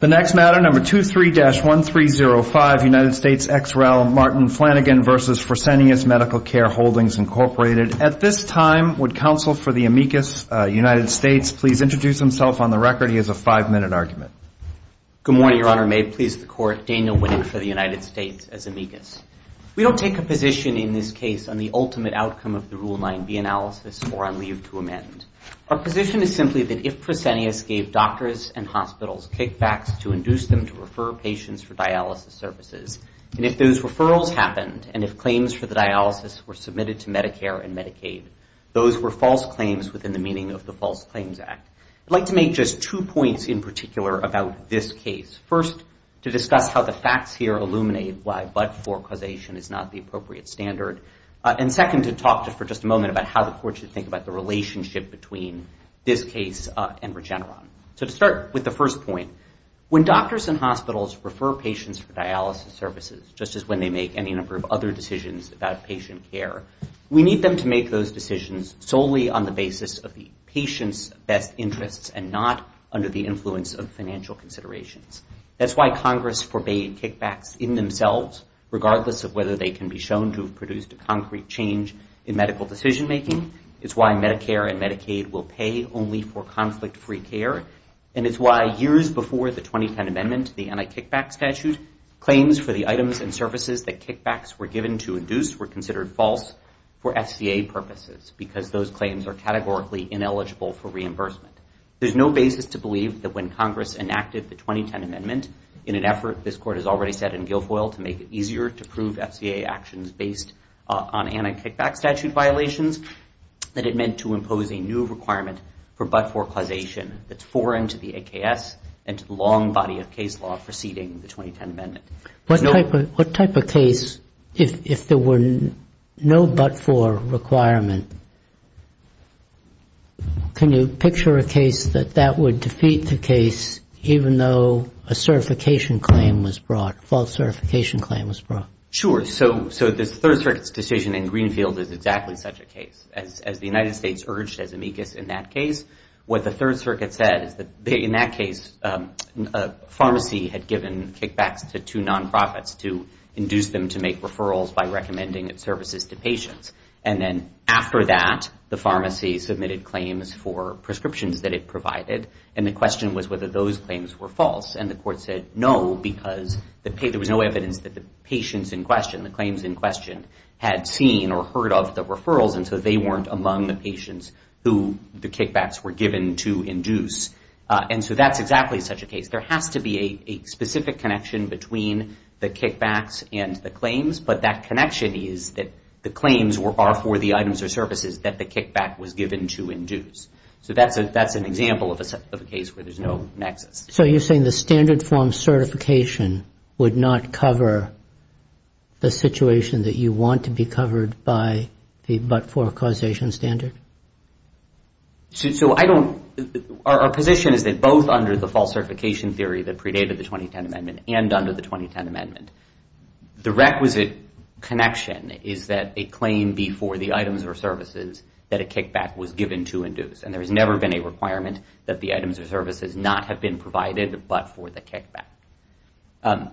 The next matter, number 23-1305, United States ex-rel Martin Flanagan v. Fresenius Medical Care Holdings, Inc. At this time, would counsel for the amicus, United States, please introduce himself on the record. He has a five-minute argument. Good morning, Your Honor. May it please the Court, Daniel Winnick for the United States as amicus. We don't take a position in this case on the ultimate outcome of the Rule 9b analysis or on leave to amend. Our position is simply that if Fresenius gave doctors and hospitals kickbacks to induce them to refer patients for dialysis services, and if those referrals happened, and if claims for the dialysis were submitted to Medicare and Medicaid, those were false claims within the meaning of the False Claims Act. I'd like to make just two points in particular about this case. First, to discuss how the facts here illuminate why but-for causation is not the appropriate standard, and second, to talk for just a moment about how the Court should think about the relationship between this case and Regeneron. So to start with the first point, when doctors and hospitals refer patients for dialysis services, just as when they make any number of other decisions about patient care, we need them to make those decisions solely on the basis of the patient's best interests and not under the influence of financial considerations. That's why Congress forbade kickbacks in themselves, regardless of whether they can be shown to have produced a concrete change in medical decision-making. It's why Medicare and Medicaid will pay only for conflict-free care, and it's why years before the 2010 Amendment, the anti-kickback statute, claims for the items and services that kickbacks were given to induce were considered false for FCA purposes, because those claims are categorically ineligible for reimbursement. There's no basis to believe that when Congress enacted the 2010 Amendment, in an effort this Court has already said in Guilfoyle to make it easier to prove FCA actions based on anti-kickback statute violations, that it meant to impose a new requirement for but-for causation that's foreign to the AKS and to the long body of case law preceding the 2010 Amendment. What type of case, if there were no but-for requirement, can you picture a case that that would defeat the case even though a certification claim was brought, a false certification claim was brought? Sure. So this Third Circuit's decision in Greenfield is exactly such a case. As the United States urged as amicus in that case, what the Third Circuit said is that in that case, a pharmacy had given kickbacks to two non-profits to induce them to make referrals by recommending its services to patients. And then after that, the pharmacy submitted claims for prescriptions that it provided, and the question was whether those claims were false. And the Court said no, because there was no evidence that the patients in question, the claims in question, had seen or heard of the referrals, and so they weren't among the patients who the kickbacks were given to induce. And so that's exactly such a case. There has to be a specific connection between the kickbacks and the claims, but that connection is that the claims are for the items or services that the kickback was given to induce. So that's an example of a case where there's no nexus. So you're saying the standard form certification would not cover the situation that you want to be covered by the but-for causation standard? Our position is that both under the false certification theory that predated the 2010 Amendment and under the 2010 Amendment, the requisite connection is that a claim be for the items or services that a kickback was given to induce. And there has never been a requirement that the items or services not have been provided but for the kickback.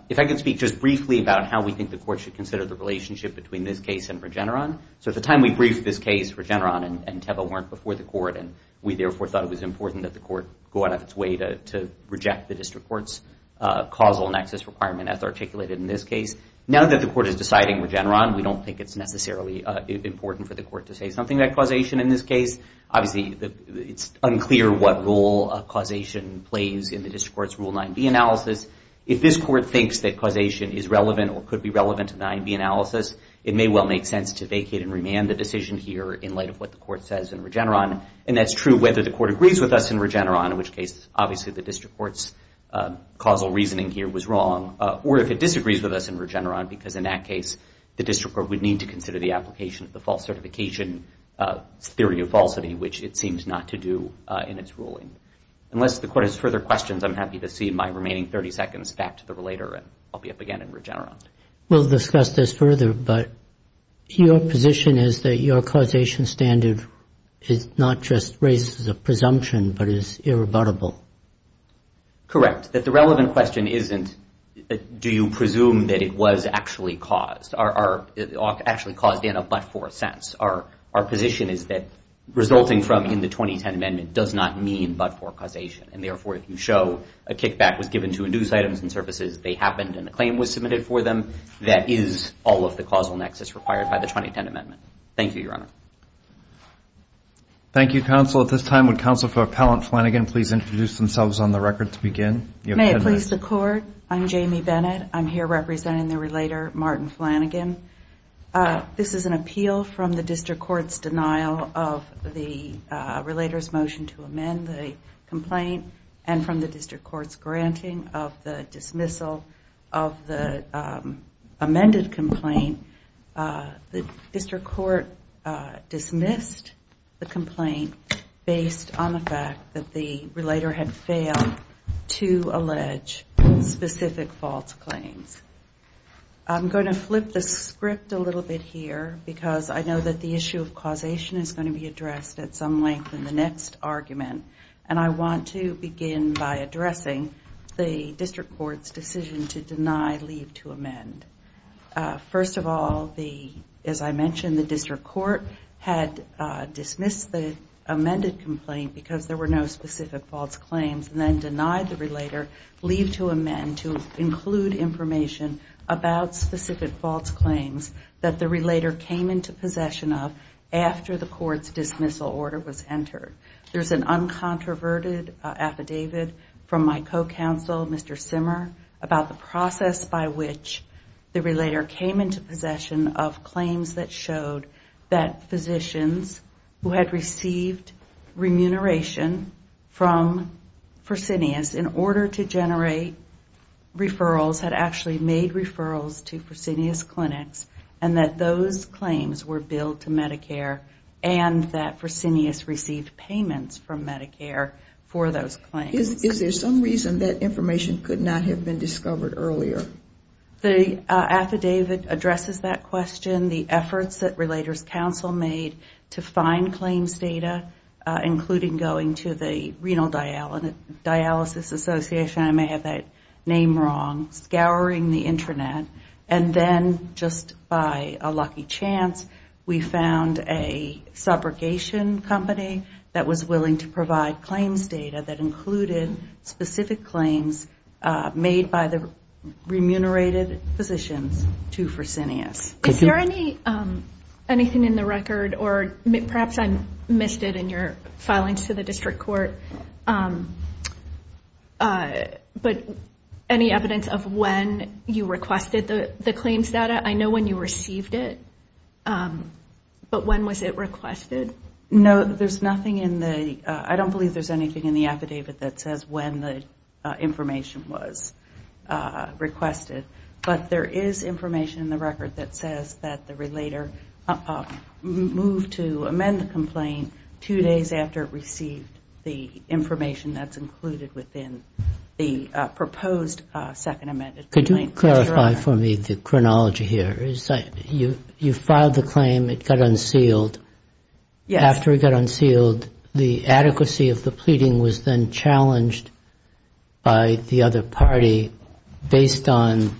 If I could speak just briefly about how we think the Court should consider the relationship between this case and Regeneron. So at the time we briefed this case, Regeneron and Teva weren't before the Court, and we therefore thought it was important that the Court go out of its way to reject the District Court's causal nexus requirement as articulated in this case. Now that the Court is deciding Regeneron, we don't think it's necessarily important for the Court to say something about causation in this case. Obviously, it's unclear what role causation plays in the District Court's Rule 9b analysis. If this Court thinks that causation is relevant or could be relevant to 9b analysis, it may well make sense to vacate and remand the decision here in light of what the Court says in Regeneron. And that's true whether the Court agrees with us in Regeneron, in which case obviously the District Court's causal reasoning here was wrong, or if it disagrees with us in Regeneron because in that case the District Court would need to consider the application of the false falsity, which it seems not to do in its ruling. Unless the Court has further questions, I'm happy to see my remaining 30 seconds back to the relator, and I'll be up again in Regeneron. We'll discuss this further, but your position is that your causation standard is not just raised as a presumption, but is irrebuttable. Correct. That the relevant question isn't, do you presume that it was actually caused, or actually caused in a but-for sense. Our position is that resulting from in the 2010 Amendment does not mean but-for causation, and therefore if you show a kickback was given to induced items and services, they happened and a claim was submitted for them, that is all of the causal nexus required by the 2010 Amendment. Thank you, Your Honor. Thank you, Counsel. At this time, would Counsel for Appellant Flanagan please introduce themselves on the record to begin? May it please the Court, I'm Jamie Bennett. I'm here representing the relator, Martin Flanagan. This is an appeal from the District Court's denial of the relator's motion to amend the complaint and from the District Court's granting of the dismissal of the amended complaint. The District Court dismissed the complaint based on the fact that the relator had failed to allege specific false claims. I'm going to flip the script a little bit here because I know that the issue of causation is going to be addressed at some length in the next argument, and I want to begin by addressing the District Court's decision to deny leave to amend. First of all, as I mentioned, the District Court had dismissed the amended complaint because there were no specific false claims and then denied the relator leave to amend to include information about specific false claims that the relator came into possession of after the Court's dismissal order was entered. There's an uncontroverted affidavit from my co-counsel, Mr. Simmer, about the process by which the relator came into possession of claims that showed that physicians who had received remuneration from Fresenius in order to generate referrals had actually made referrals to Fresenius Clinics and that those claims were billed to Medicare and that Fresenius received payments from Medicare for those claims. Is there some reason that information could not have been discovered earlier? The affidavit addresses that question, the efforts that Relators Council made to find claims data, including going to the Renal Dialysis Association, I may have that name wrong, scouring the internet, and then just by a lucky chance we found a subrogation company that was willing to provide claims data that included specific claims made by the remunerated physicians to Fresenius. Is there anything in the record, or perhaps I missed it in your filings to the District Court, but any evidence of when you requested the claims data? I know when you received it, but when was it requested? No, there's nothing in the, I don't believe there's anything in the affidavit that says when the information was requested, but there is information in the record that says that the relator moved to amend the complaint two days after it received the information that's included within the proposed second amended complaint. Could you clarify for me the chronology here? You filed the claim, it got unsealed. After it got unsealed, the adequacy of the pleading was then challenged by the other party based on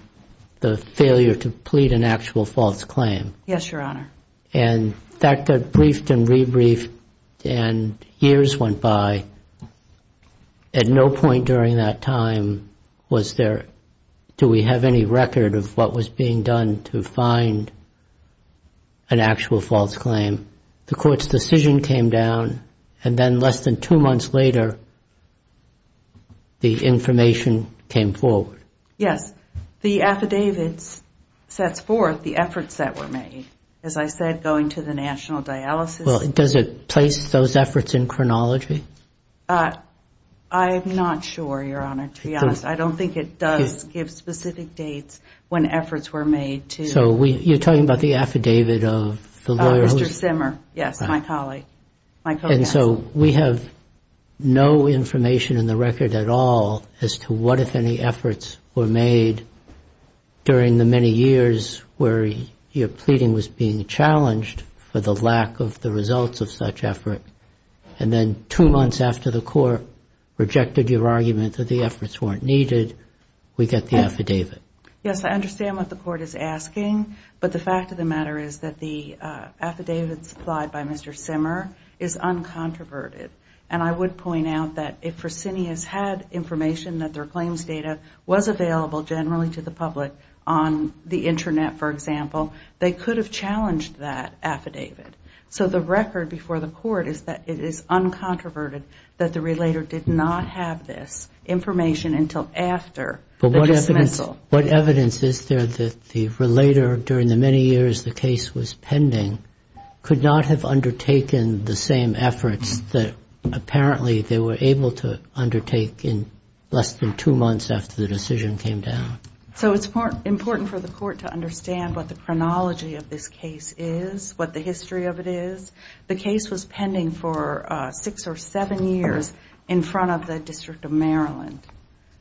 the failure to plead an actual false claim. And that got briefed and re-briefed and years went by. At no point during that time was there, do we have any record of what was being done to find an actual false claim? The court's decision came down, and then less than two months later, the information came forward. Yes. The affidavit sets forth the efforts that were made. As I said, going to the national dialysis. Does it place those efforts in chronology? I'm not sure, Your Honor, to be honest. I don't think it does give specific dates when efforts were made to. So you're talking about the affidavit of the lawyer who... Mr. Simmer, yes, my colleague, my co-counsel. And so we have no information in the record at all as to what, if any, efforts were made during the many years where your pleading was being challenged for the lack of the results of such effort. And then two months after the court rejected your argument that the efforts weren't needed, we get the affidavit. Yes, I understand what the court is asking. But the fact of the matter is that the affidavit supplied by Mr. Simmer is uncontroverted. And I would point out that if Fresenius had information that their claims data was available generally to the public on the internet, for example, they could have challenged that affidavit. So the record before the court is that it is uncontroverted that the relator did not have this information until after the dismissal. What evidence is there that the relator, during the many years the case was pending, could not have undertaken the same efforts that apparently they were able to undertake in less than two months after the decision came down? So it's important for the court to understand what the chronology of this case is, what the history of it is. The case was pending for six or seven years in front of the District of Maryland.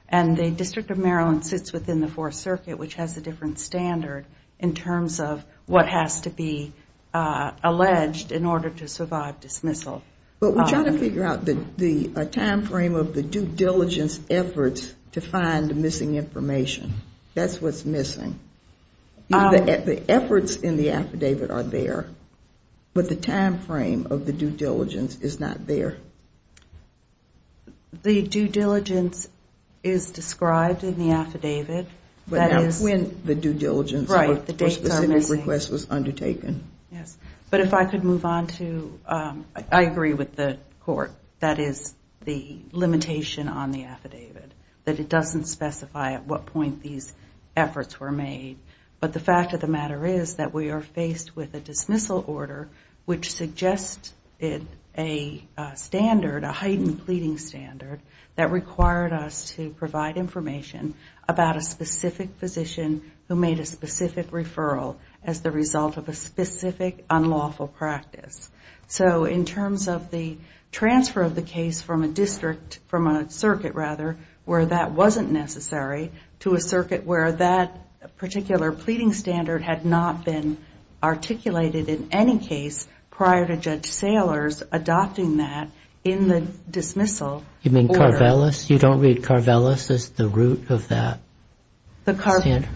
And the District of Maryland sits within the Fourth Circuit, which has a different standard in terms of what has to be alleged in order to survive dismissal. But we're trying to figure out the time frame of the due diligence efforts to find missing information. That's what's missing. The efforts in the affidavit are there, but the time frame of the due diligence is not there. The due diligence is described in the affidavit. But not when the due diligence request was undertaken. Yes, but if I could move on to, I agree with the court, that is the limitation on the affidavit. That it doesn't specify at what point these efforts were made. But the fact of the matter is that we are faced with a dismissal order which suggests a standard, a heightened pleading standard, that required us to provide information about a specific physician who made a specific referral as the result of a specific unlawful practice. So in terms of the transfer of the case from a circuit where that wasn't necessary to a circuit where that particular pleading standard had not been articulated in any case prior to Judge Saylor's adopting that in the dismissal order. You mean Carvelis? You don't read Carvelis as the root of that standard?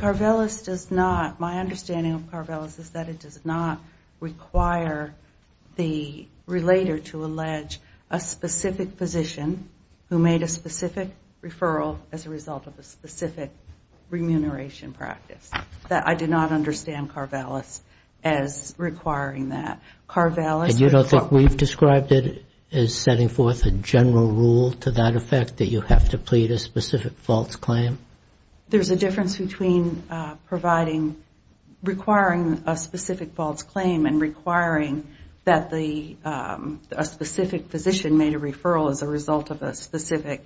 My understanding of Carvelis is that it does not require the relator to allege a specific physician who made a specific referral as a result of a specific remuneration practice. I did not understand Carvelis as requiring that. You don't think we've described it as setting forth a general rule to that effect that you have to plead a specific false claim? There's a difference between requiring a specific false claim and requiring that a specific physician made a referral as a result of a specific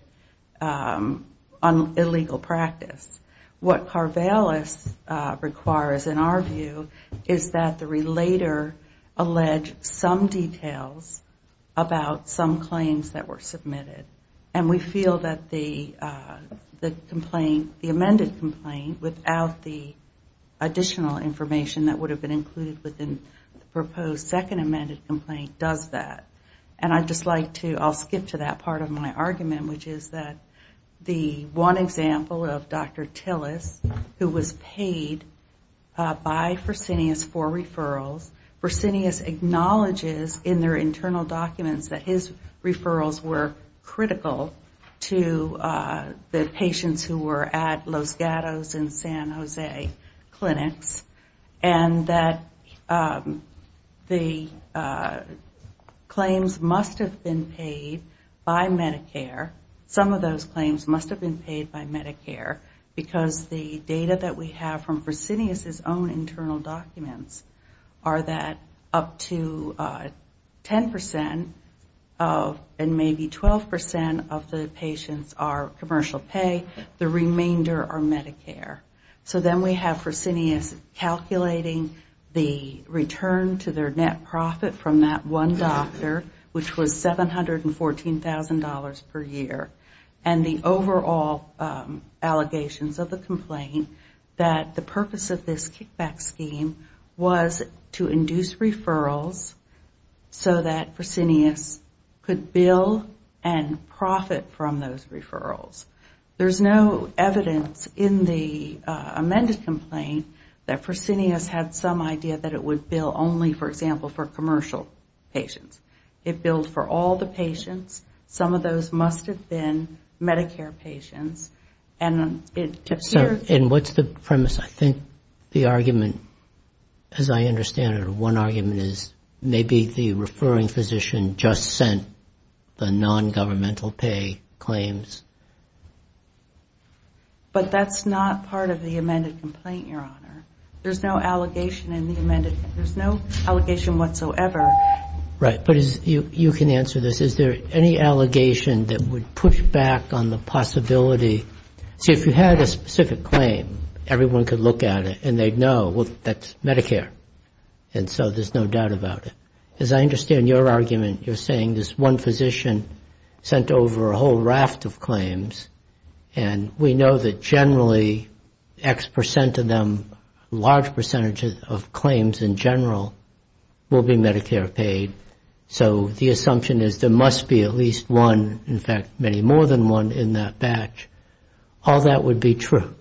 illegal practice. What Carvelis requires in our view is that the relator allege some details about some claims that were submitted. And we feel that the amended complaint without the additional information that would have been included within the proposed second amended complaint does that. And I'd just like to, I'll skip to that part of my argument, which is that the one example of Dr. Tillis, who was paid by Fresenius for referrals, Fresenius acknowledges in their internal documents that his referrals were critical to the patients who were at Los Gatos and San Jose clinics, and that the claims must have been paid by Medicare, some of those claims must have been paid by Medicare, because the data that we have from Fresenius' own internal documents are that up to 10 percent of, and maybe 12 percent of the patients are commercial pay, the remainder are Medicare. So then we have Fresenius calculating the return to their net profit from that one doctor, which was $714,000 per year, and the overall allegations of the complaint that the purpose of this kickback scheme was to induce referrals so that Fresenius could bill and profit from those referrals. There's no evidence in the amended complaint that Fresenius had some commercial patients. It billed for all the patients, some of those must have been Medicare patients, and it appears... And what's the premise? I think the argument, as I understand it, one argument is maybe the referring physician just sent the non-governmental pay claims. But that's not part of the amended complaint, Your Honor. There's no allegation in the amended Right, but you can answer this. Is there any allegation that would push back on the possibility see, if you had a specific claim, everyone could look at it and they'd know, well, that's Medicare, and so there's no doubt about it. As I understand your argument, you're saying this one physician sent over a whole raft of claims, and we know that generally X percent of them, large percentage of claims in general, will be Medicare paid. So the assumption is there must be at least one, in fact, many more than one in that batch. All that would be true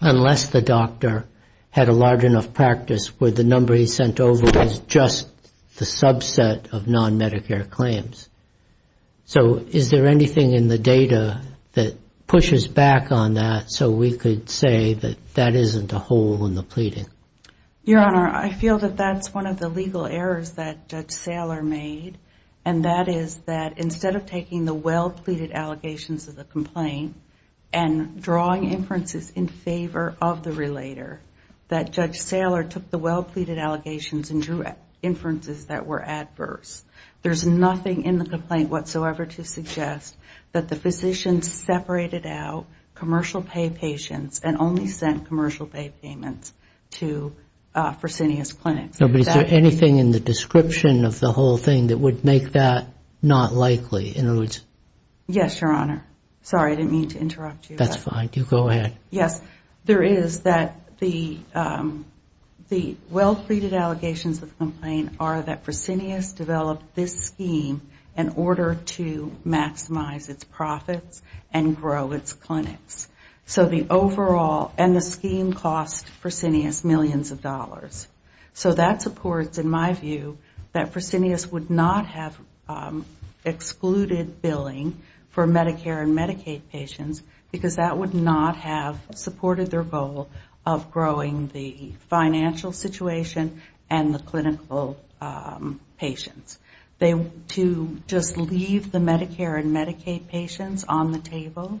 unless the doctor had a large enough practice where the number he sent over was just the subset of non-Medicare claims. So is there anything in the data that pushes back on that so we could say that that isn't a hole in the pleading? Your Honor, I feel that that's one of the legal errors that Judge Saylor made, and that is that instead of taking the well-pleaded allegations of the complaint and drawing inferences in favor of the relator, that Judge Saylor took the well-pleaded allegations and drew inferences that were adverse. There's nothing in the complaint whatsoever to suggest that the physician separated out commercial pay patients and only sent commercial pay payments to Fresenius Clinics. But is there anything in the description of the whole thing that would make that not likely? Yes, Your Honor. Sorry, I didn't mean to interrupt you. That's fine. You go ahead. Yes. There is that the well-pleaded allegations of the complaint are that Fresenius developed this scheme in order to maximize its profits and grow its clinics. So the overall and the scheme cost Fresenius millions of dollars. So that supports, in my view, that Fresenius would not have excluded billing for Medicare and Medicaid patients because that would not have supported their goal of growing the financial situation and the clinical patients. To just leave the Medicare and Medicaid patients on the table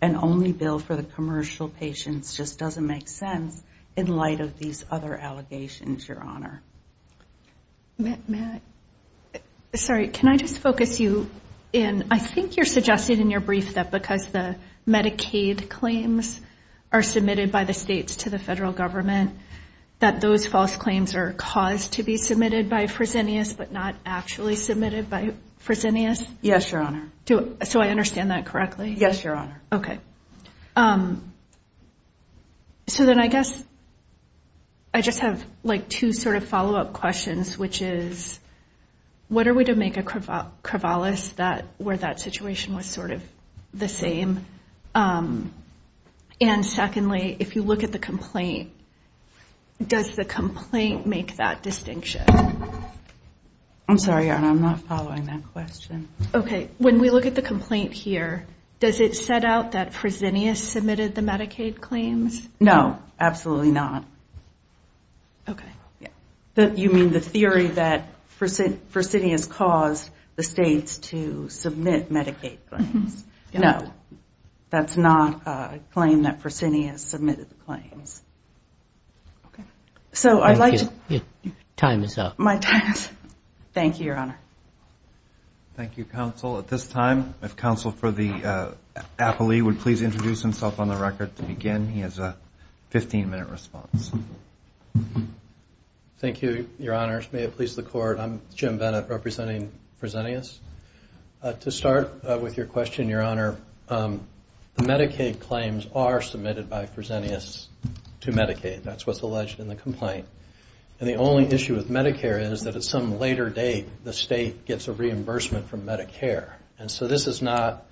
and only bill for the commercial patients just doesn't make sense in light of these other allegations, Your Honor. Matt, sorry, can I just focus you in? I think you're suggesting in your brief that because the Medicaid claims are submitted by the states to the federal government, that those false claims are caused to be not actually submitted by Fresenius? Yes, Your Honor. So I understand that correctly? Yes, Your Honor. Okay. So then I guess I just have like two sort of follow-up questions, which is what are we to make a crevallis where that situation was sort of the same? And secondly, if you look at the complaint, does the I'm sorry, Your Honor, I'm not following that question. Okay. When we look at the complaint here, does it set out that Fresenius submitted the Medicaid claims? No, absolutely not. Okay. You mean the theory that Fresenius caused the states to submit Medicaid claims? No, that's not a claim that Fresenius submitted the claims. Okay. So I'd like to Time is up. My time is up. Thank you, Your Honor. Thank you, counsel. At this time, if counsel for the appellee would please introduce himself on the record to begin. He has a 15-minute response. Thank you, Your Honors. May it please the Court. I'm Jim Bennett representing Fresenius. To start with your question, Your Honor, the Medicaid claims are submitted by Fresenius to Medicaid. That's what's alleged in the complaint. And the only issue with Medicare is that at some later date, the state gets a reimbursement from Medicare. And so this is not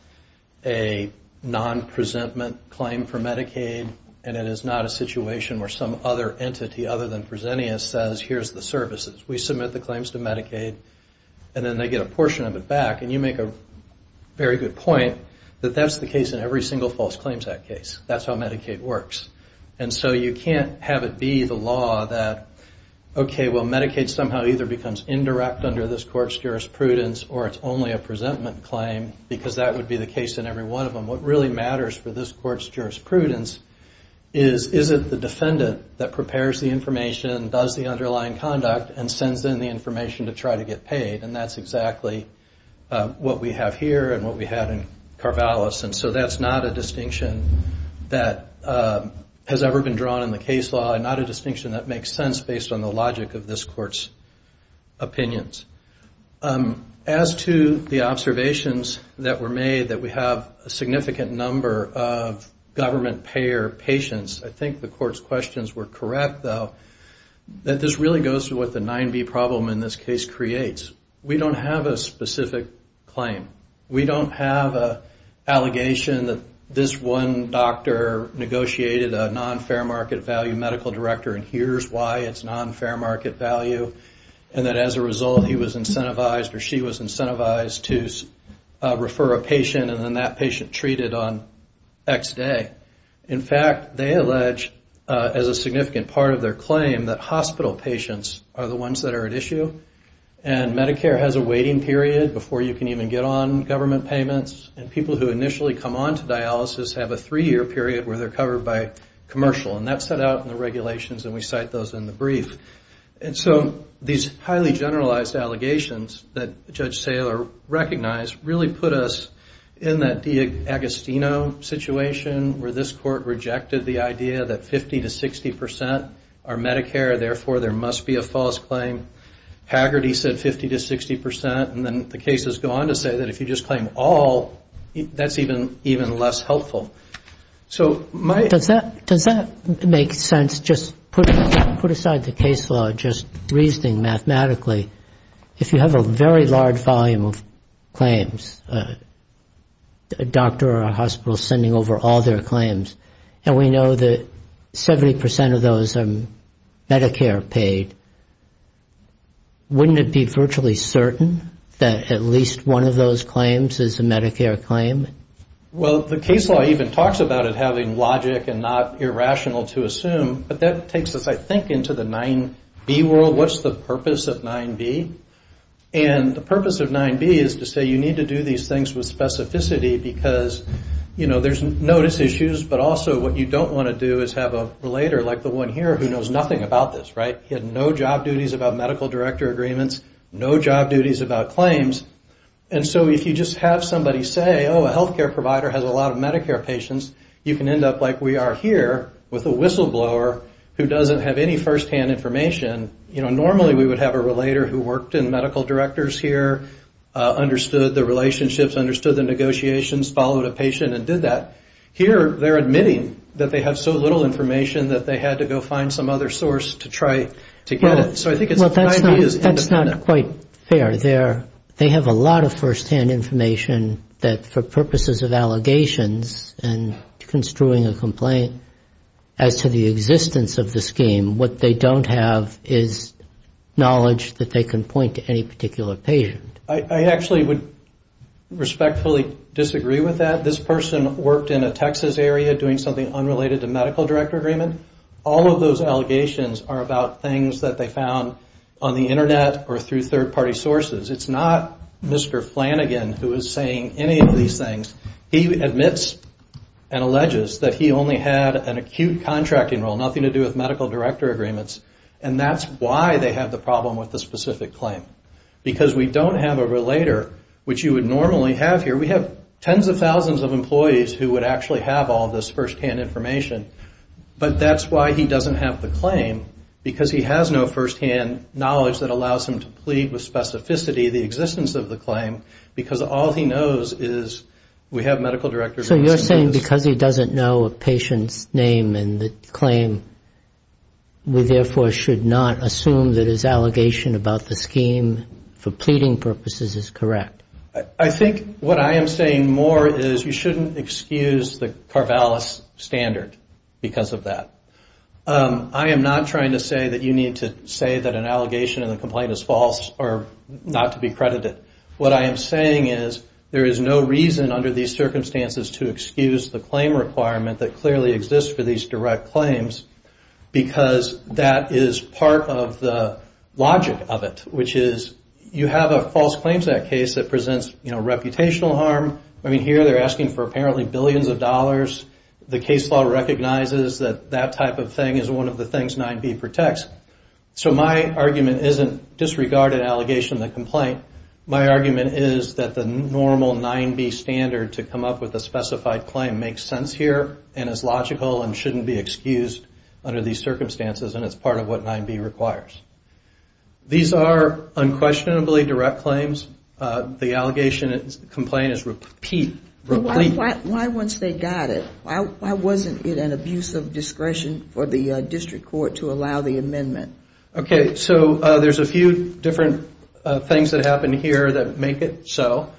a non-presentment claim for Medicaid, and it is not a situation where some other entity other than Fresenius says, here's the services. We submit the claims to Medicaid, and then they get a portion of it back. And you make a very good point that that's the case in every single False Claims Act case. That's how Medicaid works. And so you can't have it be the law that, okay, well, Medicaid somehow either becomes indirect under this court's jurisprudence, or it's only a presentment claim, because that would be the case in every one of them. What really matters for this court's jurisprudence is, is it the defendant that prepares the information, does the underlying conduct, and sends in the information to try to get paid? And that's exactly what we have here and what we had in Carvalho's. And so that's not a distinction that has ever been drawn in the case law, and not a distinction that makes sense based on the logic of this court's opinions. As to the observations that were made that we have a significant number of government payer patients, I think the court's questions were correct, though, that this really goes to what the 9B problem in this case creates. We don't have a specific claim. We don't have an allegation that this one doctor negotiated a non-fair market value medical director, and here's why it's non-fair market value, and that as a result he was incentivized or she was incentivized to refer a patient, and then that patient treated on X day. In fact, they allege, as a significant part of their claim, that hospital patients are the ones that are at issue, and Medicare has a waiting period before you can even get on government payments, and people who initially come on to dialysis have a three-year period where they're covered by commercial, and that's set out in the regulations, and we cite those in the brief. And so these highly generalized allegations that Judge Saylor recognized really put us in that DiAgostino situation, where this court rejected the idea that 50 to 60 percent are Medicare, therefore there must be a false claim. Haggerty said 50 to 60 percent, and then the cases go on to say that if you just claim all, that's even less helpful. So my question is... Does that make sense, just put aside the case law, just reasoning mathematically, if you have a very large volume of claims, a doctor or a hospital sending over all their claims, and we know that 70 percent of those are Medicare paid, wouldn't it be virtually certain that at least one of those claims is a Medicare claim? Well, the case law even talks about it having logic and not irrational to assume, but that takes us, I think, into the 9B world. What's the purpose of 9B? And the purpose of 9B is to say you need to do these things with specificity, because there's notice issues, but also what you don't want to do is have a relator like the one here who knows nothing about this, right? He had no job duties about medical director agreements, no job duties about claims, and so if you just have somebody say, oh, a healthcare provider has a lot of Medicare patients, you can end up like we are here, with a whistleblower, who doesn't have any firsthand information. Normally we would have a relator who worked in medical directors here, understood the relationships, understood the negotiations, followed a patient and did that. Here they're admitting that they have so little information that they had to go find some other source to try to get it. So I think 9B is independent. That's not quite fair. They have a lot of firsthand information that for purposes of allegations and construing a complaint, as to the existence of the scheme, what they don't have is knowledge that they can point to any particular patient. I actually would respectfully disagree with that. This person worked in a Texas area doing something unrelated to medical director agreement. All of those allegations are about things that they found on the Internet or through third-party sources. It's not Mr. Flanagan who is saying any of these things. He admits and alleges that he only had an acute contracting role, nothing to do with medical director agreements. And that's why they have the problem with the specific claim. Because we don't have a relator, which you would normally have here. We have tens of thousands of employees who would actually have all this firsthand information. But that's why he doesn't have the claim, because he has no firsthand knowledge that allows him to plead with specificity, the existence of the claim, because all he knows is we have medical director agreements. So you're saying because he doesn't know a patient's name and the claim, we therefore should not assume that his allegation about the scheme for pleading purposes is correct? I think what I am saying more is you shouldn't excuse the Carvalis standard because of that. I am not trying to say that you need to say that an allegation in the complaint is false or not to be credited. What I am saying is there is no reason under these circumstances to excuse the claim requirement that clearly exists for these direct claims, because that is part of the logic of it, which is you have a false claim to that case that presents reputational harm. Here they are asking for apparently billions of dollars. The case law recognizes that that type of thing is one of the things 9B protects. So my argument isn't disregard an allegation in the complaint. My argument is that the normal 9B standard to come up with a specified claim makes sense here, and is logical and shouldn't be excused under these circumstances, and it's part of what 9B requires. These are unquestionably direct claims. The allegation complaint is repeat. Why once they got it, why wasn't it an abuse of discretion for the district court to allow the amendment? There are a few different things that happen here that make it so.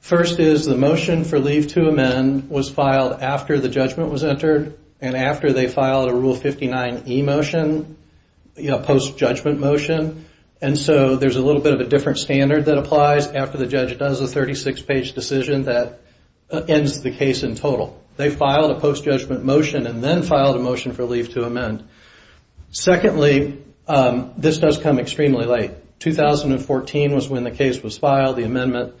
First is the motion for leave to amend was filed after the judgment was entered, and after they filed a Rule 59e motion, a post-judgment motion. There is a little bit of a different standard that applies after the judge does a 36-page decision that ends the case in total. They filed a post-judgment motion and then filed a motion for leave to amend. Secondly, this does come extremely late. 2014 was when the case was filed. The amendment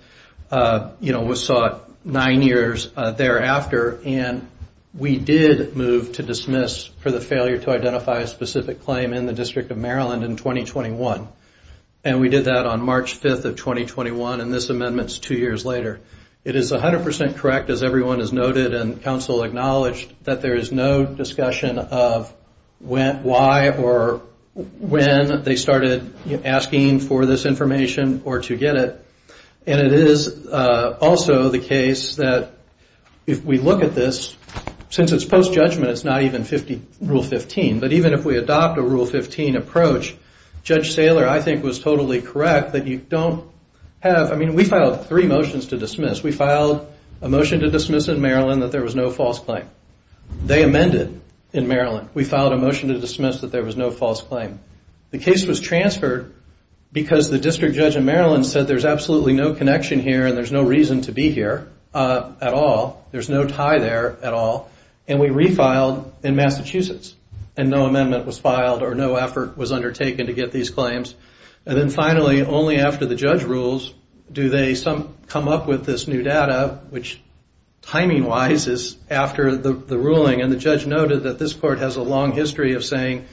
was sought nine years thereafter, and we did move to dismiss for the failure to identify a specific claim in the District of Maryland in 2021. And we did that on March 5th of 2021, and this amendment is two years later. It is 100% correct, as everyone has noted and counsel acknowledged, that there is no discussion of why or when they started asking for this information or to get it. And it is also the case that if we look at this, since it's post-judgment, it's not even Rule 15, but even if we adopt a Rule 15 approach, Judge Saylor, I think, was totally correct that you don't have... I mean, we filed three motions to dismiss. We filed a motion to dismiss in Maryland that there was no false claim. They amended in Maryland. We filed a motion to dismiss that there was no false claim. The case was transferred because the District Judge in Maryland said there's absolutely no connection here and there's no reason to be here at all. There's no tie there at all, and we refiled in Massachusetts, and no amendment was filed or no effort was undertaken to get these claims. And then finally, only after the judge rules do they come up with this new data, which timing-wise is after the ruling, and the judge noted that this court has a long history of saying,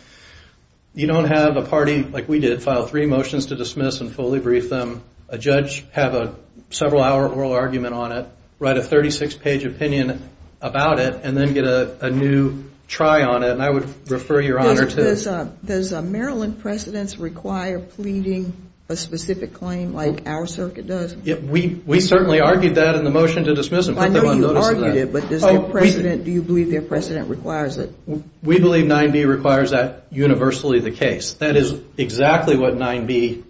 you don't have a party like we did file three motions to dismiss and fully brief them. A judge have a several-hour oral argument on it, write a 36-page opinion about it, and then get a new try on it, and I would refer your honor to... Does Maryland precedents require pleading a specific claim like our circuit does? We certainly argued that in the motion to dismiss them. I know you argued it, but do you believe their precedent requires it? We believe 9B requires that universally the case. That is exactly what 9B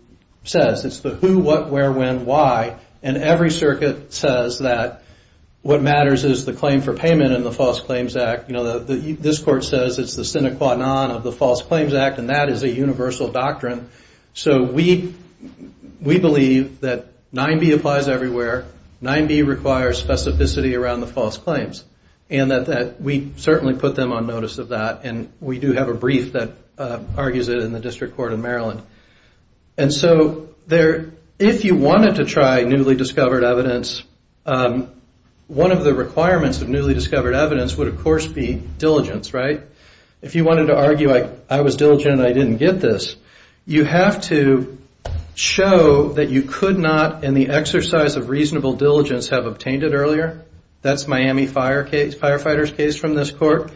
says. It's the who, what, where, when, why, and every circuit says that what matters is the claim for payment and the False Claims Act. This court says it's the sine qua non of the False Claims Act, and that is a universal doctrine. So we believe that 9B applies everywhere, 9B requires specificity around the False Claims, and that we certainly put them on notice of that, and we do have a brief that argues it in the District Court of Maryland. And so if you wanted to try newly discovered evidence, one of the requirements of newly discovered evidence would, of course, be diligence, right? If you wanted to argue, like, I was diligent and I didn't get this, you have to show that you could not, in the exercise of reasonable diligence, have obtained it earlier. That's Miami Firefighter's case from this court,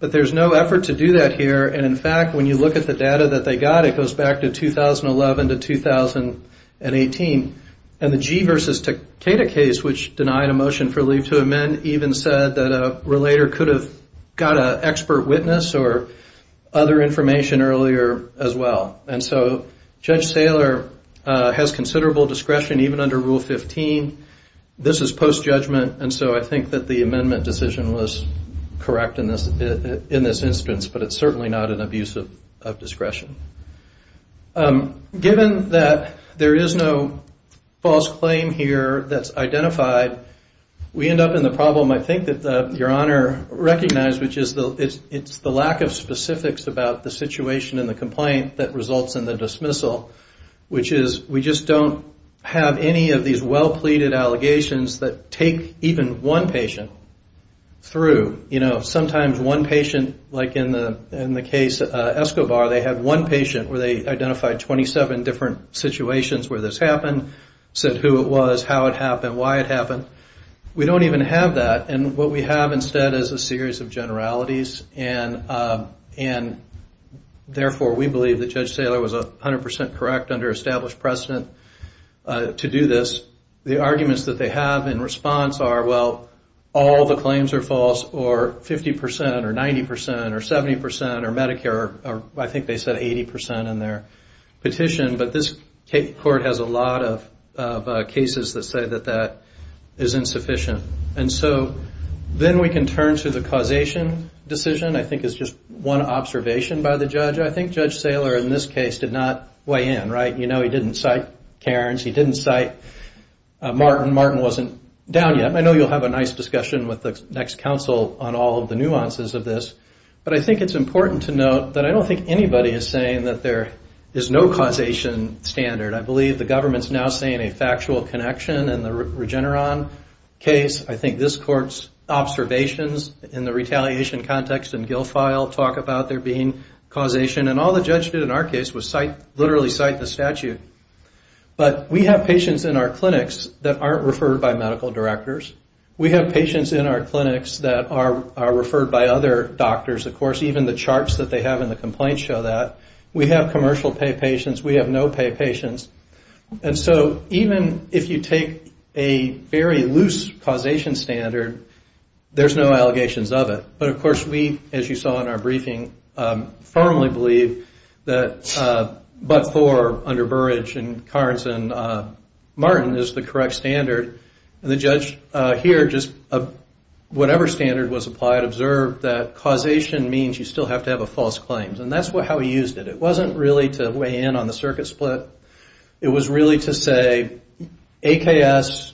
but there's no effort to do that here, and in fact, when you look at the data that they got, it goes back to 2011 to 2018, and the Gee versus Takeda case, which denied a motion for leave to amend, even said that a relator could have got an expert witness or other information earlier as well. And so Judge Saylor has considerable discretion, even under Rule 15. This is post-judgment, and so I think that the amendment decision was correct in this instance, but it's certainly not an abuse of discretion. Given that there is no false claim here that's identified, we end up in the problem, I think, that Your Honor recognized, which is the lack of specifics about the situation and the complaint that results in the dismissal, which is we just don't have any of these well-pleaded allegations that take even one patient through. Sometimes one patient, like in the case of Escobar, they had one patient where they identified 27 different situations where this happened, said who it was, how it happened, why it happened. We don't even have that, and what we have instead is a series of generalities, and therefore we believe that Judge Saylor was 100% correct under established precedent to do this. The arguments that they have in response are, well, all the claims are false, or 50%, or 90%, or 70%, or Medicare, or I think they said 80% in their petition, but this court has a lot of cases that say that that is insufficient. And so then we can turn to the causation decision, I think is just one observation by the judge. I think Judge Saylor in this case did not weigh in, right? You know he didn't cite Cairns, he didn't cite Martin, Martin wasn't down yet. I know you'll have a nice discussion with the next counsel on all of the nuances of this, but I think it's important to note that I don't think anybody is saying that there is no causation standard. I believe the government's now saying a factual connection in the Regeneron case. I think this court's observations in the retaliation context in Guilfile talk about there being causation, and all the judge did in our case was literally cite the statute. But we have patients in our clinics that aren't referred by medical directors. We have patients in our clinics that are referred by other doctors, of course, even the charts that they have in the complaints show that. We have commercial-pay patients, we have no-pay patients. And so even if you take a very loose causation standard, there's no allegations of it. But, of course, we, as you saw in our briefing, firmly believe that, but for under Burrage and Cairns and Martin is the correct standard. The judge here just, whatever standard was applied, observed that causation means you still have to have a false claim. And that's how he used it. It wasn't really to weigh in on the circuit split. It was really to say, AKS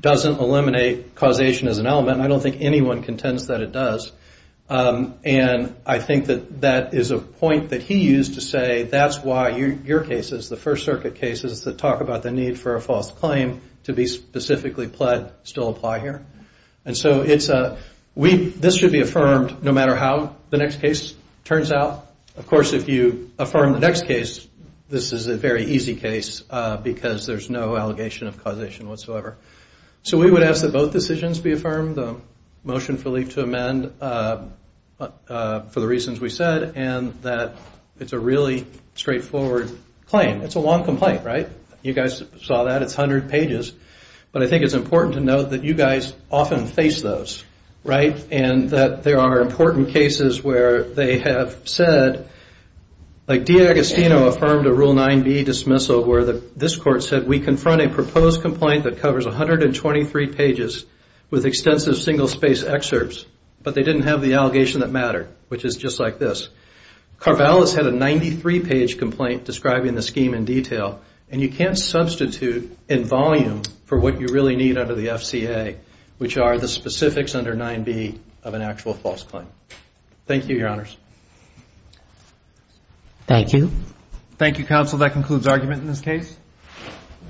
doesn't eliminate causation as an element, and I don't think anyone contends that it does. And I think that that is a point that he used to say that's why your cases, the First Circuit cases, that talk about the need for a false claim to be specifically pled still apply here. And so this should be affirmed no matter how the next case turns out. Of course, if you affirm the next case, this is a very easy case because there's no allegation of causation whatsoever. So we would ask that both decisions be affirmed, the motion for leave to amend for the reasons we said, and that it's a really straightforward claim. It's a long complaint, right? You guys saw that. It's 100 pages. But I think it's important to note that you guys often face those, right, and that there are important cases where they have said, like D'Agostino affirmed a Rule 9b dismissal where this Court said we confront a proposed complaint that covers 123 pages with extensive single-space excerpts, but they didn't have the allegation that mattered, which is just like this. Carvell has had a 93-page complaint describing the scheme in detail, and you can't substitute in volume for what you really need under the FCA, which are the specifics under 9b of an actual false claim. Thank you, Your Honors. Thank you. Thank you, counsel. That concludes argument in this case.